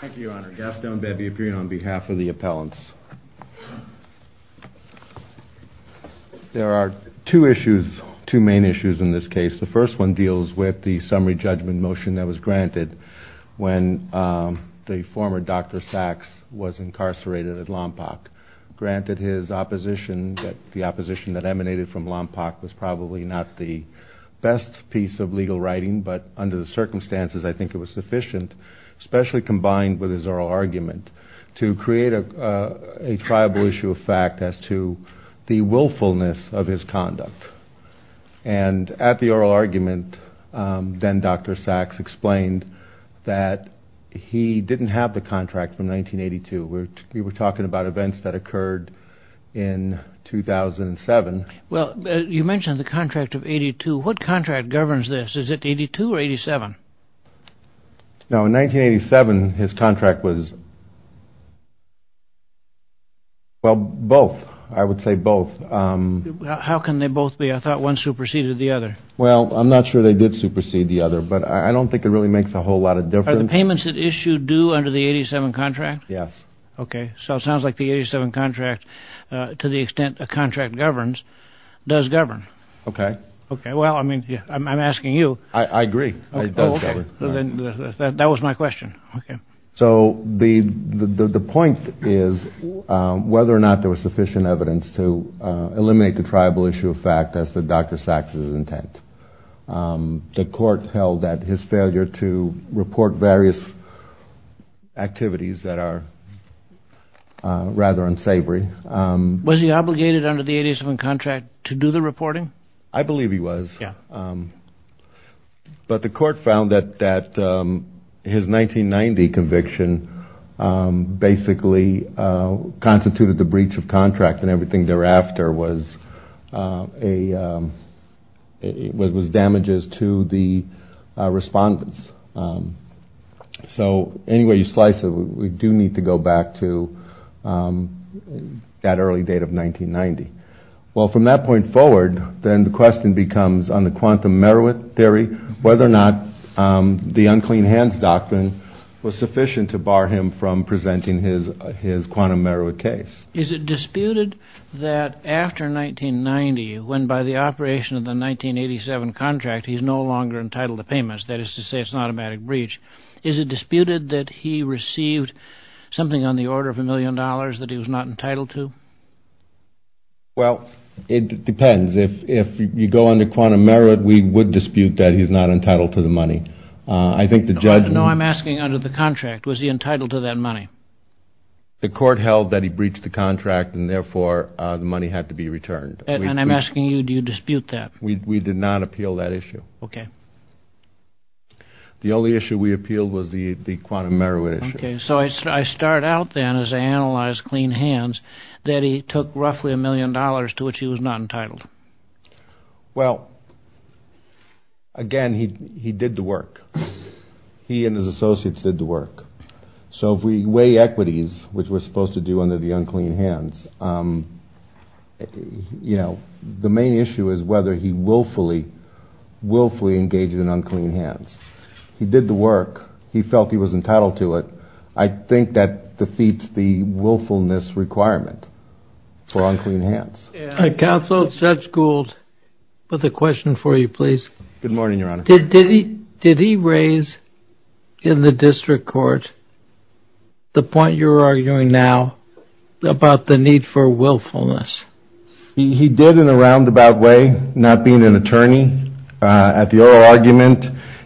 Thank you, Your Honor. Gaston Bepi, appearing on behalf of the appellants. There are two issues, two main issues in this case. The first one deals with the summary judgment motion that was granted when the former Dr. Saks was incarcerated at Lompoc. Granted his opposition, the opposition that emanated from Lompoc was probably not the best piece of legal writing, but under the circumstances I think it was sufficient, especially combined with his oral argument, to create a triable issue of fact as to the willfulness of his conduct. And at the oral argument, then Dr. Saks explained that he didn't have the contract from 1982. We were talking about events that occurred in 2007. Well, you mentioned the contract of 82. What contract governs this? Is it 82 or 87? No, in 1987 his contract was, well, both. I would say both. How can they both be? I thought one superseded the other. Well, I'm not sure they did supersede the other, but I don't think it really makes a whole lot of difference. Are the payments that issue due under the 87 contract? Yes. Okay. So it sounds like the 87 contract, to the extent a contract governs, does govern. Okay. Okay. Well, I mean, I'm asking you. I agree. It does govern. That was my question. Okay. So the point is whether or not there was sufficient evidence to eliminate the triable issue of fact as to Dr. Saks' intent. The court held that his failure to report various activities that are rather unsavory. Was he obligated under the 87 contract to do the reporting? I believe he was. Yeah. But the court found that his 1990 conviction basically constituted the breach of contract and everything thereafter was damages to the respondents. So any way you slice it, we do need to go back to that early date of 1990. Well, from that point forward, then the question becomes, on the quantum Merowith theory, whether or not the unclean hands doctrine was sufficient to bar him from presenting his quantum Merowith case. Is it disputed that after 1990, when by the operation of the 1987 contract, he's no longer entitled to payments, that is to say it's an automatic breach, is it disputed that he received something on the order of a million dollars that he was not entitled to? Well, it depends. If you go under quantum Merowith, we would dispute that he's not entitled to the money. No, I'm asking under the contract, was he entitled to that money? The court held that he breached the contract and therefore the money had to be returned. And I'm asking you, do you dispute that? We did not appeal that issue. Okay. The only issue we appealed was the quantum Merowith issue. Okay, so I start out then as I analyze clean hands, that he took roughly a million dollars to which he was not entitled. Well, again, he did the work. He and his associates did the work. So if we weigh equities, which we're supposed to do under the unclean hands, you know, the main issue is whether he willfully engaged in unclean hands. He did the work. He felt he was entitled to it. I think that defeats the willfulness requirement for unclean hands. Counsel, Judge Gould with a question for you, please. Good morning, Your Honor. Did he raise in the district court the point you're arguing now about the need for willfulness? He did in a roundabout way, not being an attorney. At the oral argument,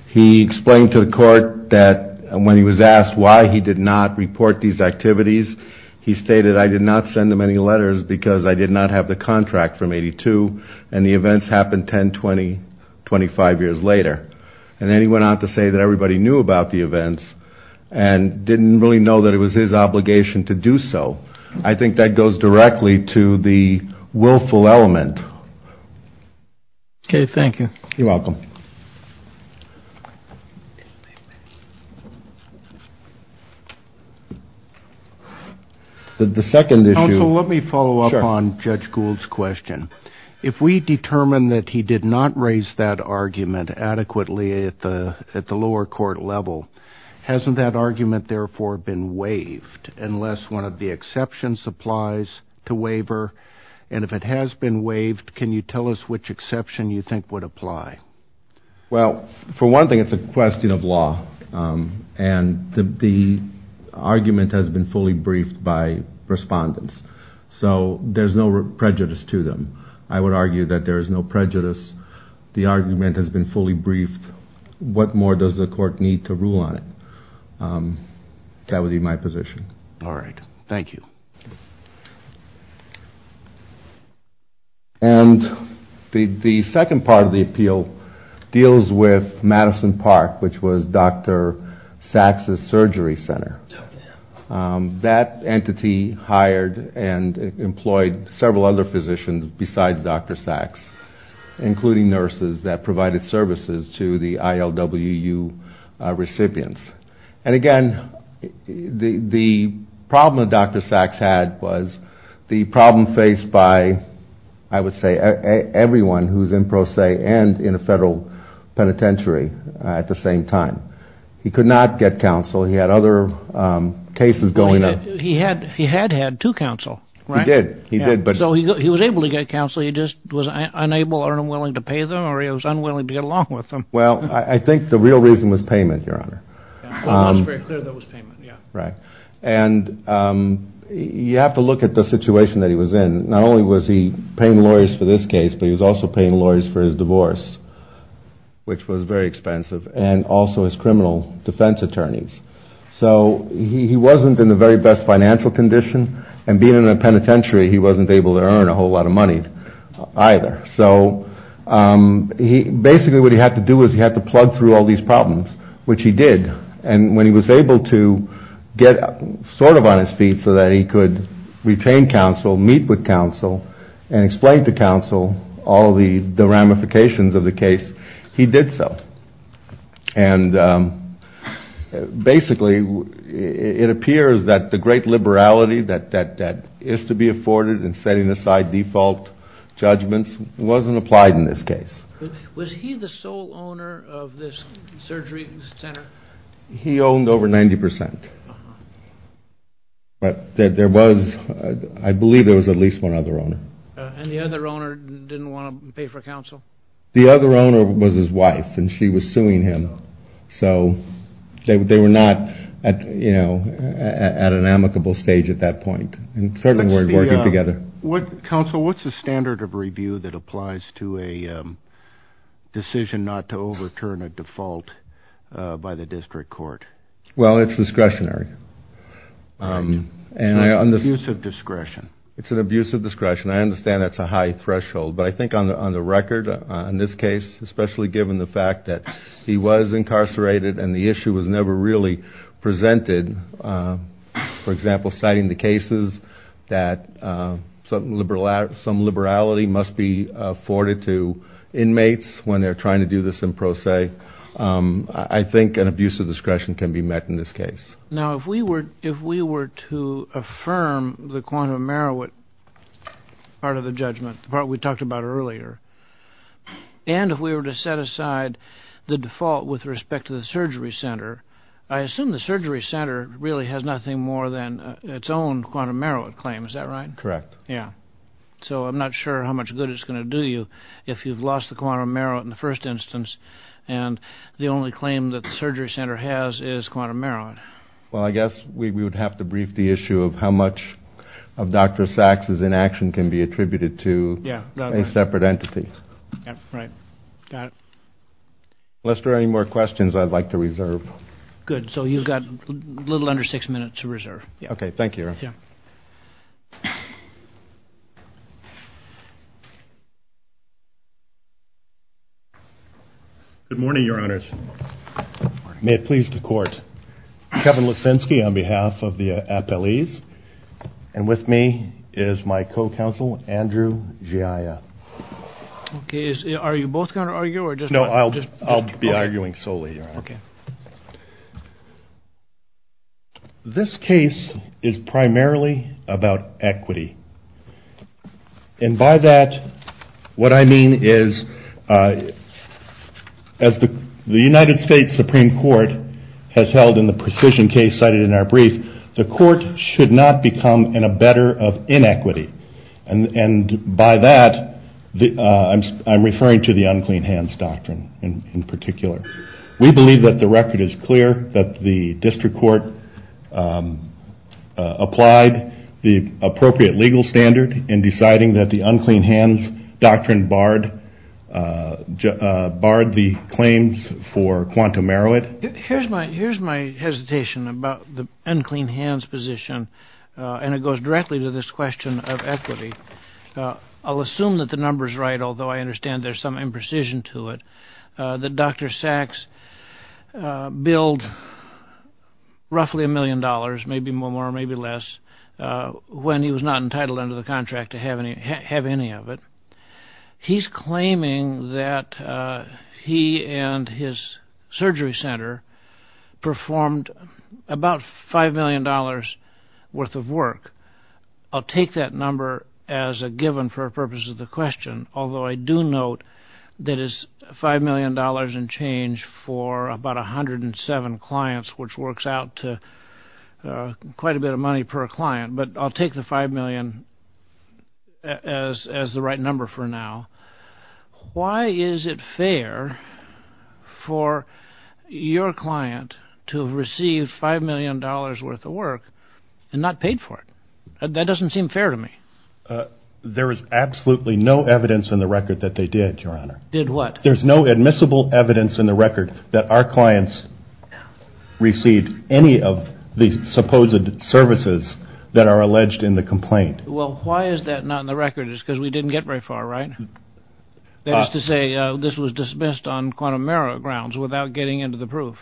he explained to the court that when he was asked why he did not report these activities, he stated, I did not send them any letters because I did not have the contract from 82, and the events happened 10, 20, 25 years later. And then he went on to say that everybody knew about the events and didn't really know that it was his obligation to do so. I think that goes directly to the willful element. Okay, thank you. You're welcome. Counsel, let me follow up on Judge Gould's question. If we determine that he did not raise that argument adequately at the lower court level, hasn't that argument, therefore, been waived unless one of the exceptions applies to waiver? And if it has been waived, can you tell us which exception you think would apply? Well, for one thing, it's a question of law. And the argument has been fully briefed by respondents. So there's no prejudice to them. I would argue that there is no prejudice. The argument has been fully briefed. What more does the court need to rule on it? That would be my position. All right, thank you. And the second part of the appeal deals with Madison Park, which was Dr. Sacks' surgery center. That entity hired and employed several other physicians besides Dr. Sacks, including nurses that provided services to the ILWU recipients. And, again, the problem that Dr. Sacks had was the problem faced by, I would say, everyone who was in pro se and in a federal penitentiary at the same time. He could not get counsel. He had other cases going on. He had had two counsel. He did. He did. So he was able to get counsel. He just was unable or unwilling to pay them, or he was unwilling to get along with them. Well, I think the real reason was payment, Your Honor. It was very clear that it was payment, yeah. Right. And you have to look at the situation that he was in. Not only was he paying lawyers for this case, but he was also paying lawyers for his divorce, which was very expensive, and also his criminal defense attorneys. So he wasn't in the very best financial condition, and being in a penitentiary, he wasn't able to earn a whole lot of money either. So basically what he had to do was he had to plug through all these problems, which he did. And when he was able to get sort of on his feet so that he could retain counsel, meet with counsel, and explain to counsel all the ramifications of the case, he did so. And basically it appears that the great liberality that is to be afforded in setting aside default judgments wasn't applied in this case. Was he the sole owner of this surgery center? He owned over 90%. But there was, I believe there was at least one other owner. And the other owner didn't want to pay for counsel? The other owner was his wife, and she was suing him. So they were not, you know, at an amicable stage at that point. And certainly weren't working together. Counsel, what's the standard of review that applies to a decision not to overturn a default by the district court? Well, it's discretionary. It's an abuse of discretion. It's an abuse of discretion. I understand that's a high threshold. But I think on the record, in this case, especially given the fact that he was incarcerated and the issue was never really presented, for example, citing the cases that some liberality must be afforded to inmates when they're trying to do this in pro se, I think an abuse of discretion can be met in this case. Now, if we were to affirm the quantum merit part of the judgment, the part we talked about earlier, and if we were to set aside the default with respect to the surgery center, I assume the surgery center really has nothing more than its own quantum merit claim. Is that right? Correct. Yeah. So I'm not sure how much good it's going to do you if you've lost the quantum merit in the first instance and the only claim that the surgery center has is quantum merit. Well, I guess we would have to brief the issue of how much of Dr. Sachs' inaction can be attributed to a separate entity. Right. Got it. Unless there are any more questions, I'd like to reserve. Good. So you've got a little under six minutes to reserve. Okay. Thank you. Yeah. Good morning, Your Honors. May it please the Court. Kevin Lissinsky on behalf of the appellees. And with me is my co-counsel, Andrew Giaia. Okay. Are you both going to argue or just one? No, I'll be arguing solely, Your Honor. Okay. This case is primarily about equity. And by that, what I mean is as the United States Supreme Court has held in the precision case cited in our brief, the court should not become in a better of inequity. And by that, I'm referring to the unclean hands doctrine in particular. We believe that the record is clear that the district court applied the appropriate legal standard in deciding that the unclean hands doctrine barred the claims for quantum merit. Here's my hesitation about the unclean hands position, and it goes directly to this question of equity. I'll assume that the number's right, although I understand there's some imprecision to it, that Dr. Sachs billed roughly a million dollars, maybe more, maybe less, when he was not entitled under the contract to have any of it. He's claiming that he and his surgery center performed about $5 million worth of work. I'll take that number as a given for the purpose of the question, although I do note that it's $5 million and change for about 107 clients, which works out to quite a bit of money per client. But I'll take the $5 million as the right number for now. Why is it fair for your client to have received $5 million worth of work and not paid for it? That doesn't seem fair to me. There is absolutely no evidence in the record that they did, Your Honor. Did what? There's no admissible evidence in the record that our clients received any of the supposed services that are alleged in the complaint. Well, why is that not in the record? It's because we didn't get very far, right? That is to say, this was dismissed on quantum error grounds without getting into the proof.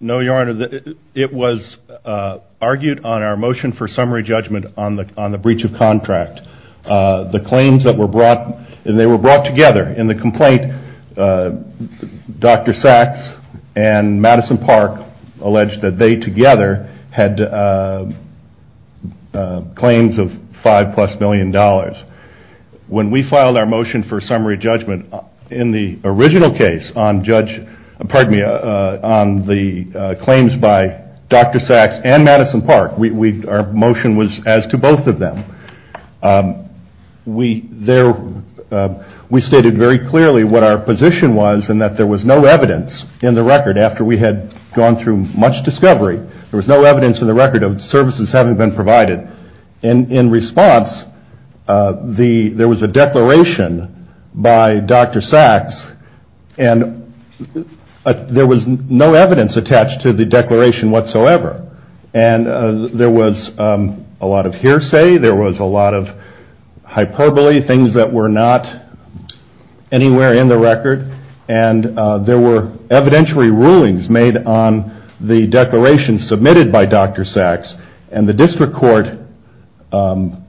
No, Your Honor. It was argued on our motion for summary judgment on the breach of contract. The claims that were brought, and they were brought together in the complaint, Dr. Sacks and Madison Park alleged that they together had claims of $5 plus million. When we filed our motion for summary judgment in the original case on the claims by Dr. Sacks and Madison Park, our motion was as to both of them. We stated very clearly what our position was and that there was no evidence in the record. After we had gone through much discovery, there was no evidence in the record of services having been provided. In response, there was a declaration by Dr. Sacks and there was no evidence attached to the declaration whatsoever. There was a lot of hearsay, there was a lot of hyperbole, things that were not anywhere in the record, and there were evidentiary rulings made on the declaration submitted by Dr. Sacks. The district court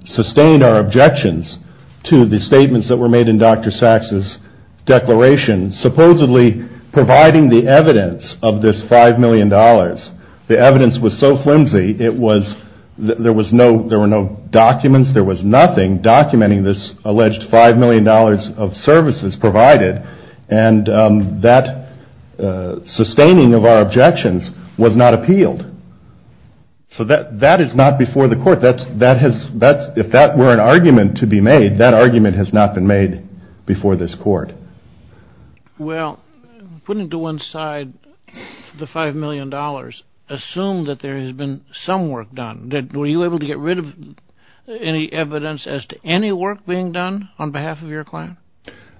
sustained our objections to the statements that were made in Dr. Sacks' declaration, supposedly providing the evidence of this $5 million. The evidence was so flimsy, there were no documents, there was nothing documenting this alleged $5 million of services provided, and that sustaining of our objections was not appealed. So that is not before the court. If that were an argument to be made, that argument has not been made before this court. Well, putting to one side the $5 million, assume that there has been some work done. Were you able to get rid of any evidence as to any work being done on behalf of your client?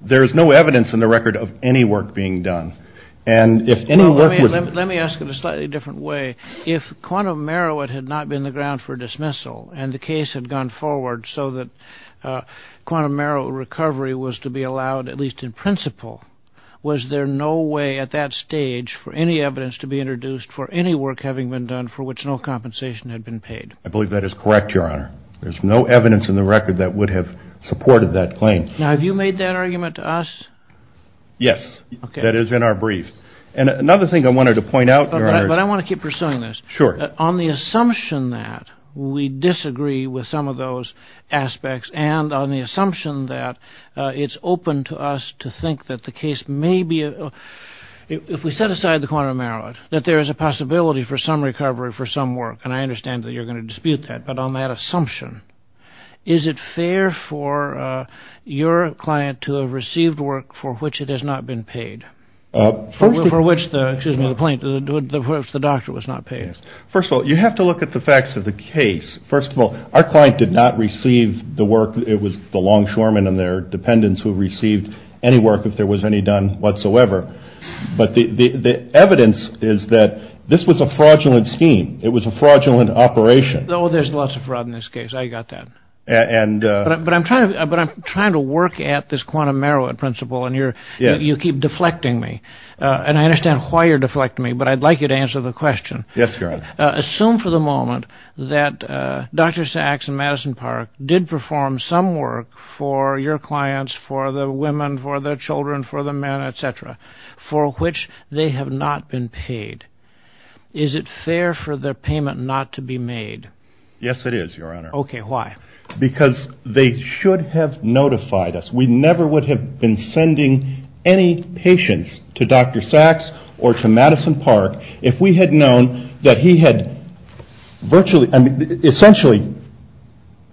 There is no evidence in the record of any work being done. Let me ask it a slightly different way. If Quantum Marrow had not been the ground for dismissal, and the case had gone forward so that Quantum Marrow recovery was to be allowed, at least in principle, was there no way at that stage for any evidence to be introduced for any work having been done for which no compensation had been paid? I believe that is correct, Your Honor. There is no evidence in the record that would have supported that claim. Now, have you made that argument to us? Yes, that is in our briefs. Another thing I wanted to point out, Your Honor... But I want to keep pursuing this. Sure. On the assumption that we disagree with some of those aspects, and on the assumption that it is open to us to think that the case may be... If we set aside the Quantum Marrow, that there is a possibility for some recovery for some work, and I understand that you are going to dispute that, but on that assumption, is it fair for your client to have received work for which it has not been paid? For which the doctor was not paid. First of all, you have to look at the facts of the case. First of all, our client did not receive the work. It was the longshoremen and their dependents who received any work if there was any done whatsoever. But the evidence is that this was a fraudulent scheme. It was a fraudulent operation. Oh, there is lots of fraud in this case. I got that. But I'm trying to work at this Quantum Marrow principle, and you keep deflecting me. And I understand why you're deflecting me, but I'd like you to answer the question. Yes, Your Honor. Assume for the moment that Dr. Sachs and Madison Park did perform some work for your clients, for the women, for the children, for the men, et cetera, for which they have not been paid. Is it fair for their payment not to be made? Yes, it is, Your Honor. Okay, why? Because they should have notified us. We never would have been sending any patients to Dr. Sachs or to Madison Park if we had known that he had essentially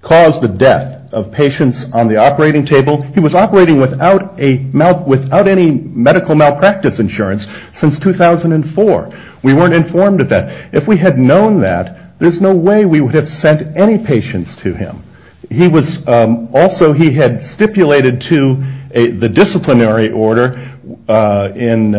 caused the death of patients on the operating table. He was operating without any medical malpractice insurance since 2004. We weren't informed of that. If we had known that, there's no way we would have sent any patients to him. Also, he had stipulated to the disciplinary order in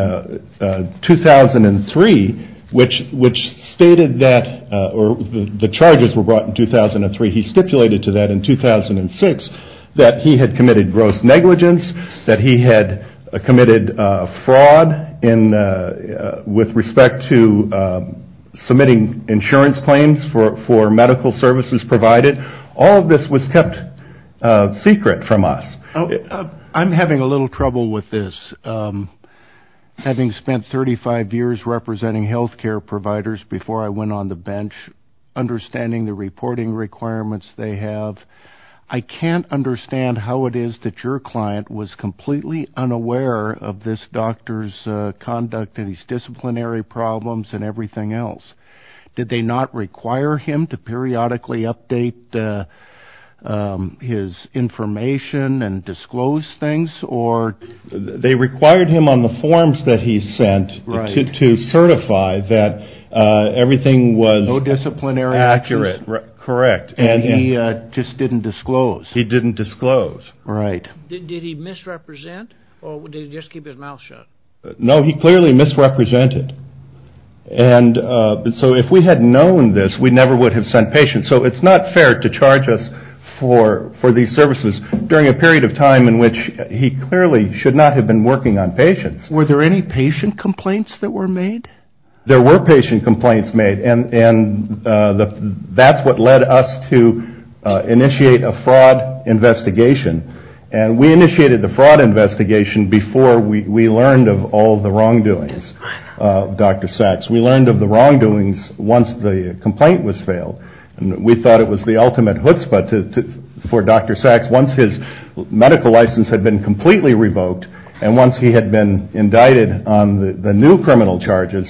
2003, which stated that, or the charges were brought in 2003. He stipulated to that in 2006 that he had committed gross negligence, that he had committed fraud with respect to submitting insurance claims for medical services provided. All of this was kept secret from us. I'm having a little trouble with this. Having spent 35 years representing health care providers before I went on the bench, understanding the reporting requirements they have, I can't understand how it is that your client was completely unaware of this doctor's conduct and his disciplinary problems and everything else. Did they not require him to periodically update his information and disclose things? They required him on the forms that he sent to certify that everything was accurate. He just didn't disclose? He didn't disclose. Did he misrepresent or did he just keep his mouth shut? No, he clearly misrepresented. If we had known this, we never would have sent patients. It's not fair to charge us for these services during a period of time in which he clearly should not have been working on patients. Were there any patient complaints that were made? There were patient complaints made. That's what led us to initiate a fraud investigation. We initiated the fraud investigation before we learned of all the wrongdoings of Dr. Sachs. We learned of the wrongdoings once the complaint was failed. We thought it was the ultimate chutzpah for Dr. Sachs. Once his medical license had been completely revoked and once he had been indicted on the new criminal charges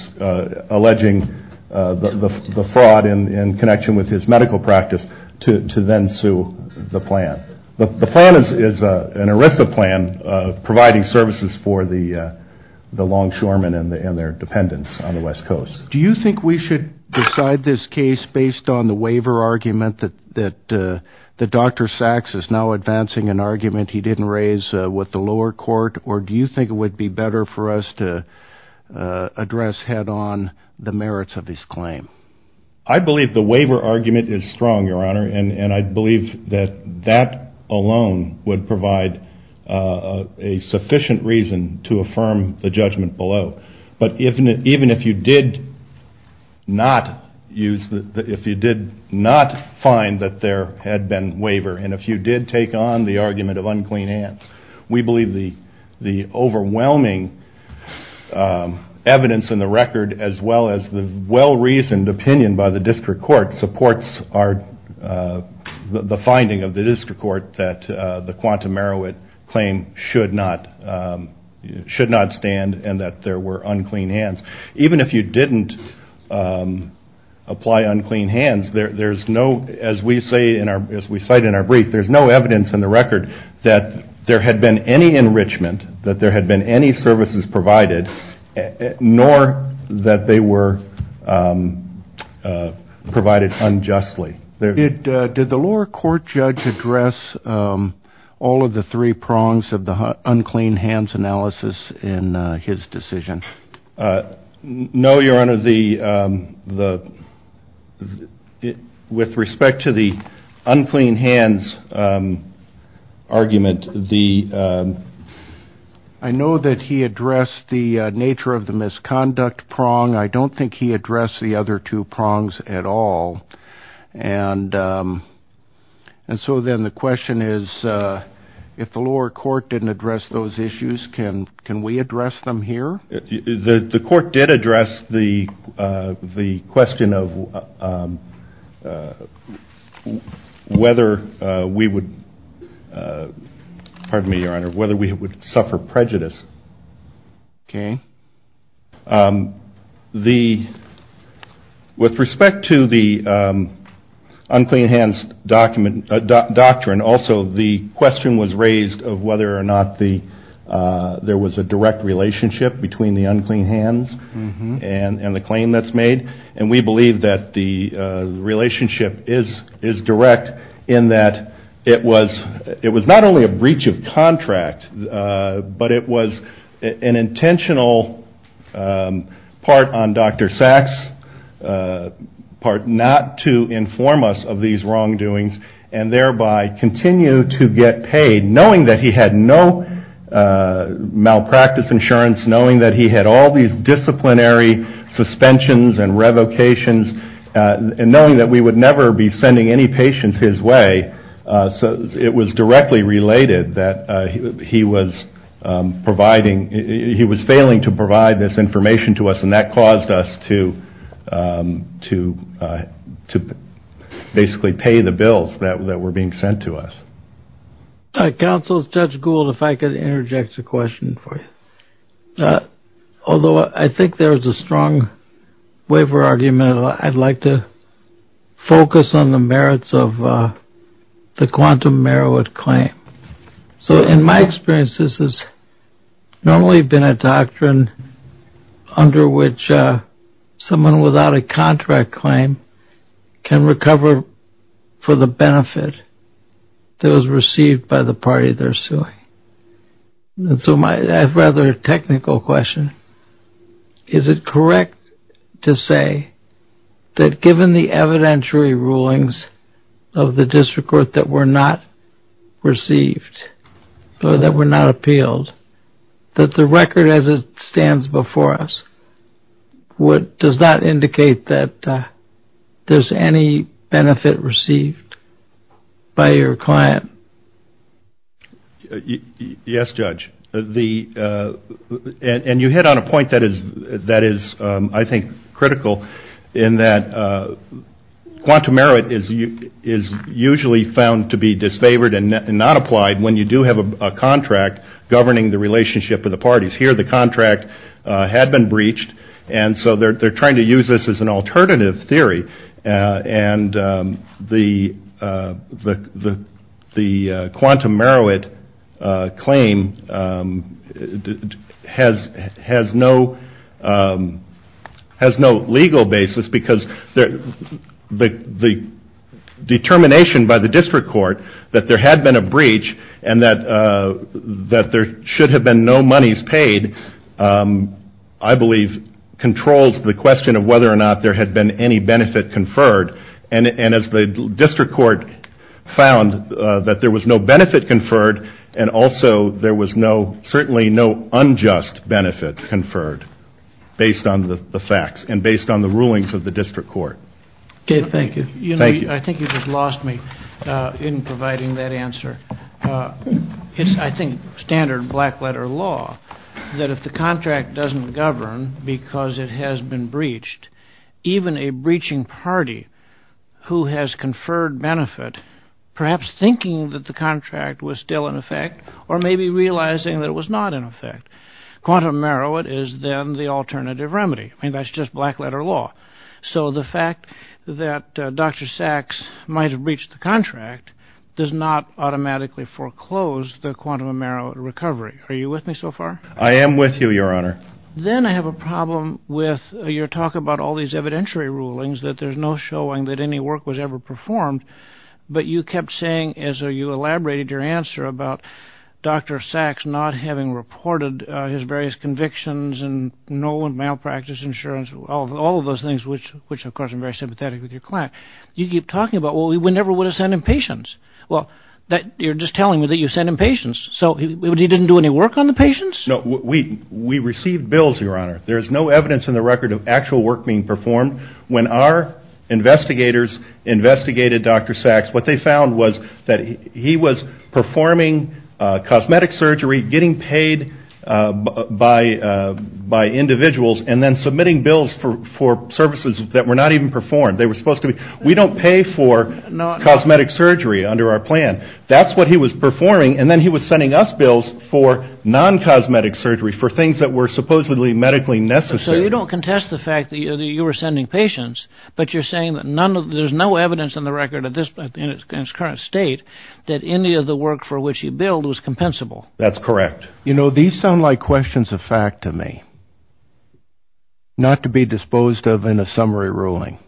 alleging the fraud in connection with his medical practice to then sue the plan. The plan is an ERISA plan providing services for the longshoremen and their dependents on the West Coast. Do you think we should decide this case based on the waiver argument that Dr. Sachs is now advancing an argument he didn't raise with the lower court or do you think it would be better for us to address head-on the merits of his claim? I believe the waiver argument is strong, Your Honor, and I believe that that alone would provide a sufficient reason to affirm the judgment below. But even if you did not find that there had been waiver and if you did take on the argument of unclean hands, we believe the overwhelming evidence in the record as well as the well-reasoned opinion by the district court supports the finding of the district court that the Quantum Marowit claim should not stand and that there were unclean hands. Even if you didn't apply unclean hands, as we cite in our brief, there's no evidence in the record that there had been any enrichment, that there had been any services provided, nor that they were provided unjustly. Did the lower court judge address all of the three prongs of the unclean hands analysis in his decision? No, Your Honor. With respect to the unclean hands argument, I know that he addressed the nature of the misconduct prong. I don't think he addressed the other two prongs at all. And so then the question is, if the lower court didn't address those issues, can we address them here? The court did address the question of whether we would suffer prejudice. With respect to the unclean hands doctrine, also the question was raised of whether or not there was a direct relationship between the unclean hands and the claim that's made. And we believe that the relationship is direct in that it was not only a breach of contract, but it was an intentional part on Dr. Sacks, part not to inform us of these wrongdoings, and thereby continue to get paid, knowing that he had no malpractice insurance, knowing that he had all these disciplinary suspensions and revocations, and knowing that we would never be sending any patients his way. It was directly related that he was failing to provide this information to us, and that caused us to basically pay the bills that were being sent to us. Counsel, Judge Gould, if I could interject a question for you. Although I think there's a strong waiver argument, I'd like to focus on the merits of the quantum merit claim. So in my experience, this has normally been a doctrine under which someone without a contract claim can recover for the benefit that was received by the party they're suing. So I have a rather technical question. Is it correct to say that given the evidentiary rulings of the district court that were not received, or that were not appealed, that the record as it stands before us does not indicate that there's any benefit received by your client? Yes, Judge. And you hit on a point that is, I think, critical, in that quantum merit is usually found to be disfavored and not applied when you do have a contract governing the relationship of the parties. Here the contract had been breached, and so they're trying to use this as an alternative theory. And the quantum merit claim has no legal basis, because the determination by the district court that there had been a breach and that there should have been no monies paid, I believe, controls the question of whether or not there had been any benefit conferred. And as the district court found that there was no benefit conferred, and also there was certainly no unjust benefit conferred based on the facts and based on the rulings of the district court. Okay, thank you. Thank you. I think you just lost me in providing that answer. It's, I think, standard black-letter law that if the contract doesn't govern because it has been breached, even a breaching party who has conferred benefit, perhaps thinking that the contract was still in effect or maybe realizing that it was not in effect, quantum merit is then the alternative remedy. I mean, that's just black-letter law. So the fact that Dr. Sachs might have breached the contract does not automatically foreclose the quantum merit recovery. Are you with me so far? I am with you, Your Honor. Then I have a problem with your talk about all these evidentiary rulings, that there's no showing that any work was ever performed, but you kept saying as you elaborated your answer about Dr. Sachs not having reported his various convictions and no and malpractice insurance, all of those things, which, of course, I'm very sympathetic with your client. You keep talking about, well, we never would have sent him patients. Well, you're just telling me that you sent him patients. So he didn't do any work on the patients? No, we received bills, Your Honor. There's no evidence in the record of actual work being performed. When our investigators investigated Dr. Sachs, what they found was that he was performing cosmetic surgery, getting paid by individuals, and then submitting bills for services that were not even performed. We don't pay for cosmetic surgery under our plan. That's what he was performing, and then he was sending us bills for non-cosmetic surgery, for things that were supposedly medically necessary. So you don't contest the fact that you were sending patients, but you're saying that there's no evidence in the record in its current state that any of the work for which he billed was compensable. That's correct. You know, these sound like questions of fact to me, not to be disposed of in a summary ruling.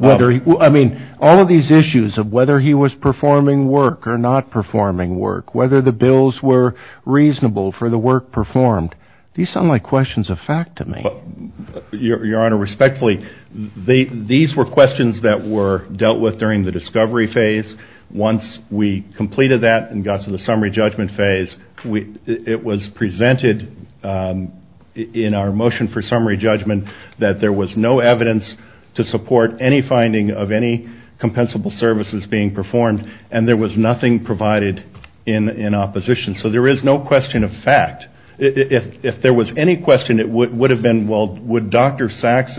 I mean, all of these issues of whether he was performing work or not performing work, whether the bills were reasonable for the work performed, these sound like questions of fact to me. Your Honor, respectfully, these were questions that were dealt with during the discovery phase. Once we completed that and got to the summary judgment phase, it was presented in our motion for summary judgment that there was no evidence to support any finding of any compensable services being performed, and there was nothing provided in opposition. So there is no question of fact. If there was any question, it would have been, well, would Dr. Sachs'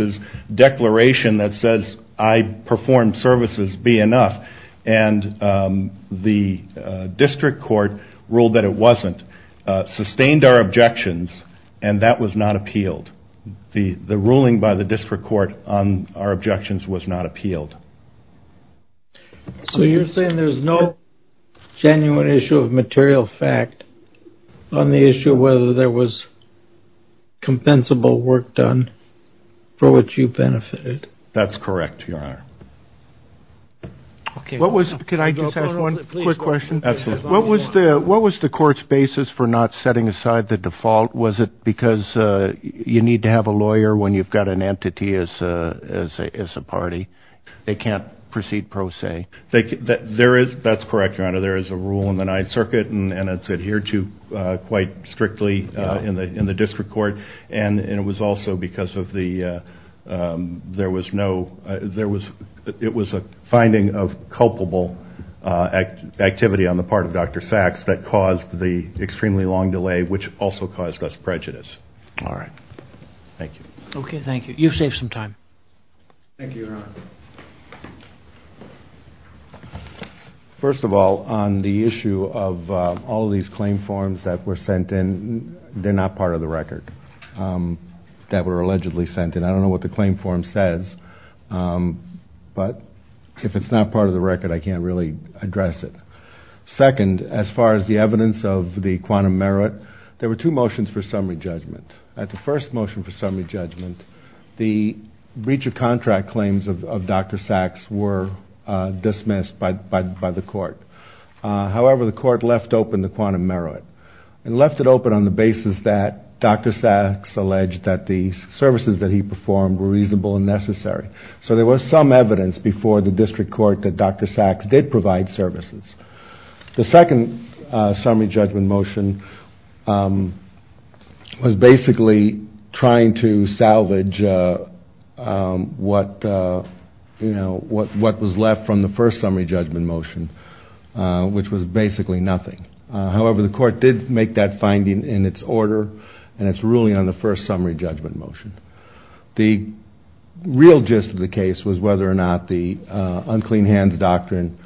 declaration that says I performed services be enough? And the district court ruled that it wasn't, sustained our objections, and that was not appealed. The ruling by the district court on our objections was not appealed. So you're saying there's no genuine issue of material fact on the issue of whether there was compensable work done for which you benefited? That's correct, Your Honor. Can I just ask one quick question? What was the court's basis for not setting aside the default? Was it because you need to have a lawyer when you've got an entity as a party? They can't proceed pro se. That's correct, Your Honor. There is a rule in the Ninth Circuit, and it's adhered to quite strictly in the district court, and it was also because it was a finding of culpable activity on the part of Dr. Sachs that caused the extremely long delay, which also caused us prejudice. All right. Thank you. Okay, thank you. You've saved some time. Thank you, Your Honor. First of all, on the issue of all these claim forms that were sent in, they're not part of the record that were allegedly sent in. I don't know what the claim form says, but if it's not part of the record, I can't really address it. Second, as far as the evidence of the quantum merit, there were two motions for summary judgment. At the first motion for summary judgment, the breach of contract claims of Dr. Sachs were dismissed by the court. However, the court left open the quantum merit, and left it open on the basis that Dr. Sachs alleged that the services that he performed were reasonable and necessary. So there was some evidence before the district court that Dr. Sachs did provide services. The second summary judgment motion was basically trying to salvage what was left from the first summary judgment motion, which was basically nothing. However, the court did make that finding in its order, and it's ruling on the first summary judgment motion. The real gist of the case was whether or not the unclean hands doctrine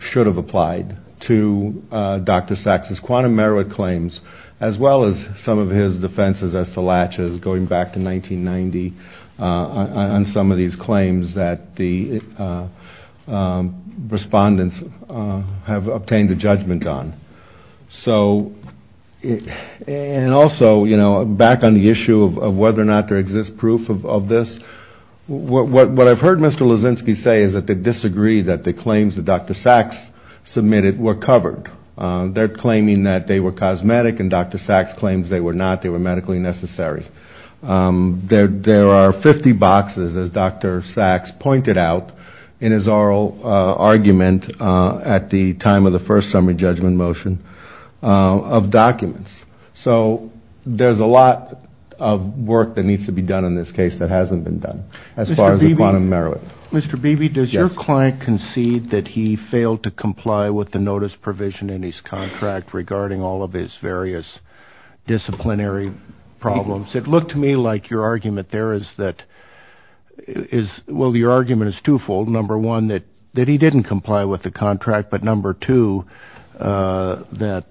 should have applied to Dr. Sachs' quantum merit claims, as well as some of his defenses as to latches going back to 1990 on some of these claims that the respondents have obtained a judgment on. And also, back on the issue of whether or not there exists proof of this, what I've heard Mr. Lozinski say is that they disagree that the claims that Dr. Sachs submitted were covered. They're claiming that they were cosmetic, and Dr. Sachs claims they were not. They were medically necessary. There are 50 boxes, as Dr. Sachs pointed out in his oral argument at the time of the first summary judgment motion, of documents. So there's a lot of work that needs to be done in this case that hasn't been done as far as the quantum merit. Mr. Beebe, does your client concede that he failed to comply with the notice provision in his contract regarding all of his various disciplinary problems? It looked to me like your argument there is that – well, your argument is twofold. Number one, that he didn't comply with the contract. But number two, that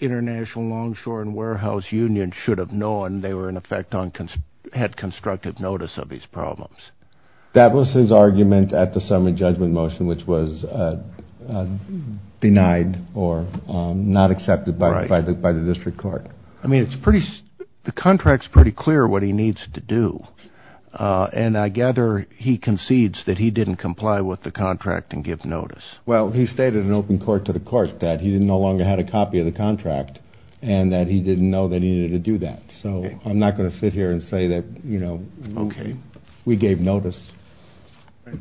International Longshore and Warehouse Union should have known they were in effect on – had constructive notice of his problems. That was his argument at the summary judgment motion, which was denied or not accepted by the district court. I mean, it's pretty – the contract's pretty clear what he needs to do. And I gather he concedes that he didn't comply with the contract and give notice. Well, he stated in open court to the court that he no longer had a copy of the contract and that he didn't know they needed to do that. So I'm not going to sit here and say that, you know, we gave notice.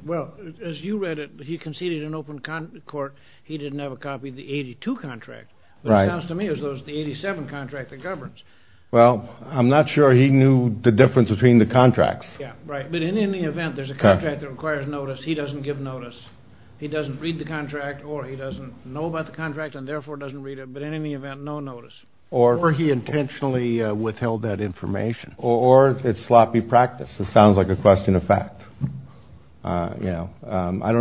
Well, as you read it, he conceded in open court he didn't have a copy of the 82 contract. Right. It sounds to me as though it's the 87 contract that governs. Well, I'm not sure he knew the difference between the contracts. Yeah, right. But in any event, there's a contract that requires notice. He doesn't give notice. He doesn't read the contract or he doesn't know about the contract and therefore doesn't read it. But in any event, no notice. Or he intentionally withheld that information. Or it's sloppy practice. It sounds like a question of fact. I don't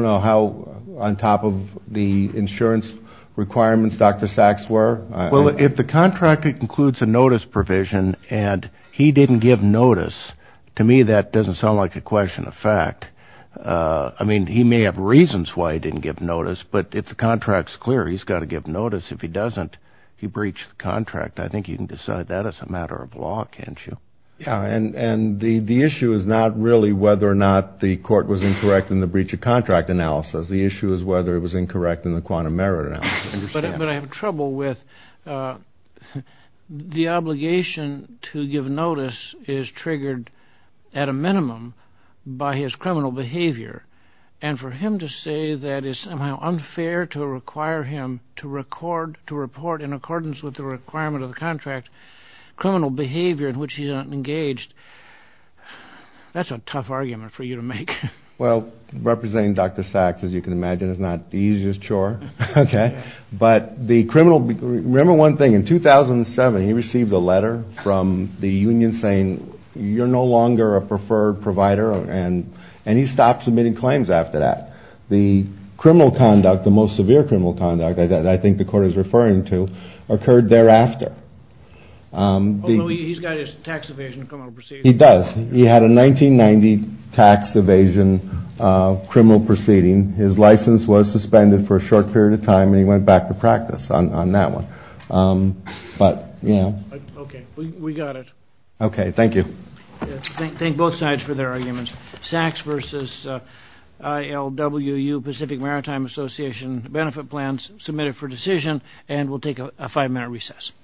know how on top of the insurance requirements Dr. Sachs were. Well, if the contract includes a notice provision and he didn't give notice, to me that doesn't sound like a question of fact. I mean, he may have reasons why he didn't give notice, but if the contract's clear, he's got to give notice. If he doesn't, he breached the contract. I think you can decide that as a matter of law, can't you? Yeah, and the issue is not really whether or not the court was incorrect in the breach of contract analysis. The issue is whether it was incorrect in the quantum merit analysis. But I have trouble with the obligation to give notice is triggered at a minimum by his criminal behavior. And for him to say that it's somehow unfair to require him to record, to report in accordance with the requirement of the contract, criminal behavior in which he's not engaged, that's a tough argument for you to make. Well, representing Dr. Sachs, as you can imagine, is not the easiest chore. But the criminal, remember one thing, in 2007 he received a letter from the union saying, you're no longer a preferred provider, and he stopped submitting claims after that. The criminal conduct, the most severe criminal conduct that I think the court is referring to, occurred thereafter. Oh, no, he's got his tax evasion criminal proceeding. He does. He had a 1990 tax evasion criminal proceeding. His license was suspended for a short period of time, and he went back to practice on that one. But, you know. Okay, we got it. Okay, thank you. Thank both sides for their arguments. Sachs v. ILWU Pacific Maritime Association benefit plans submitted for decision, and we'll take a five-minute recess.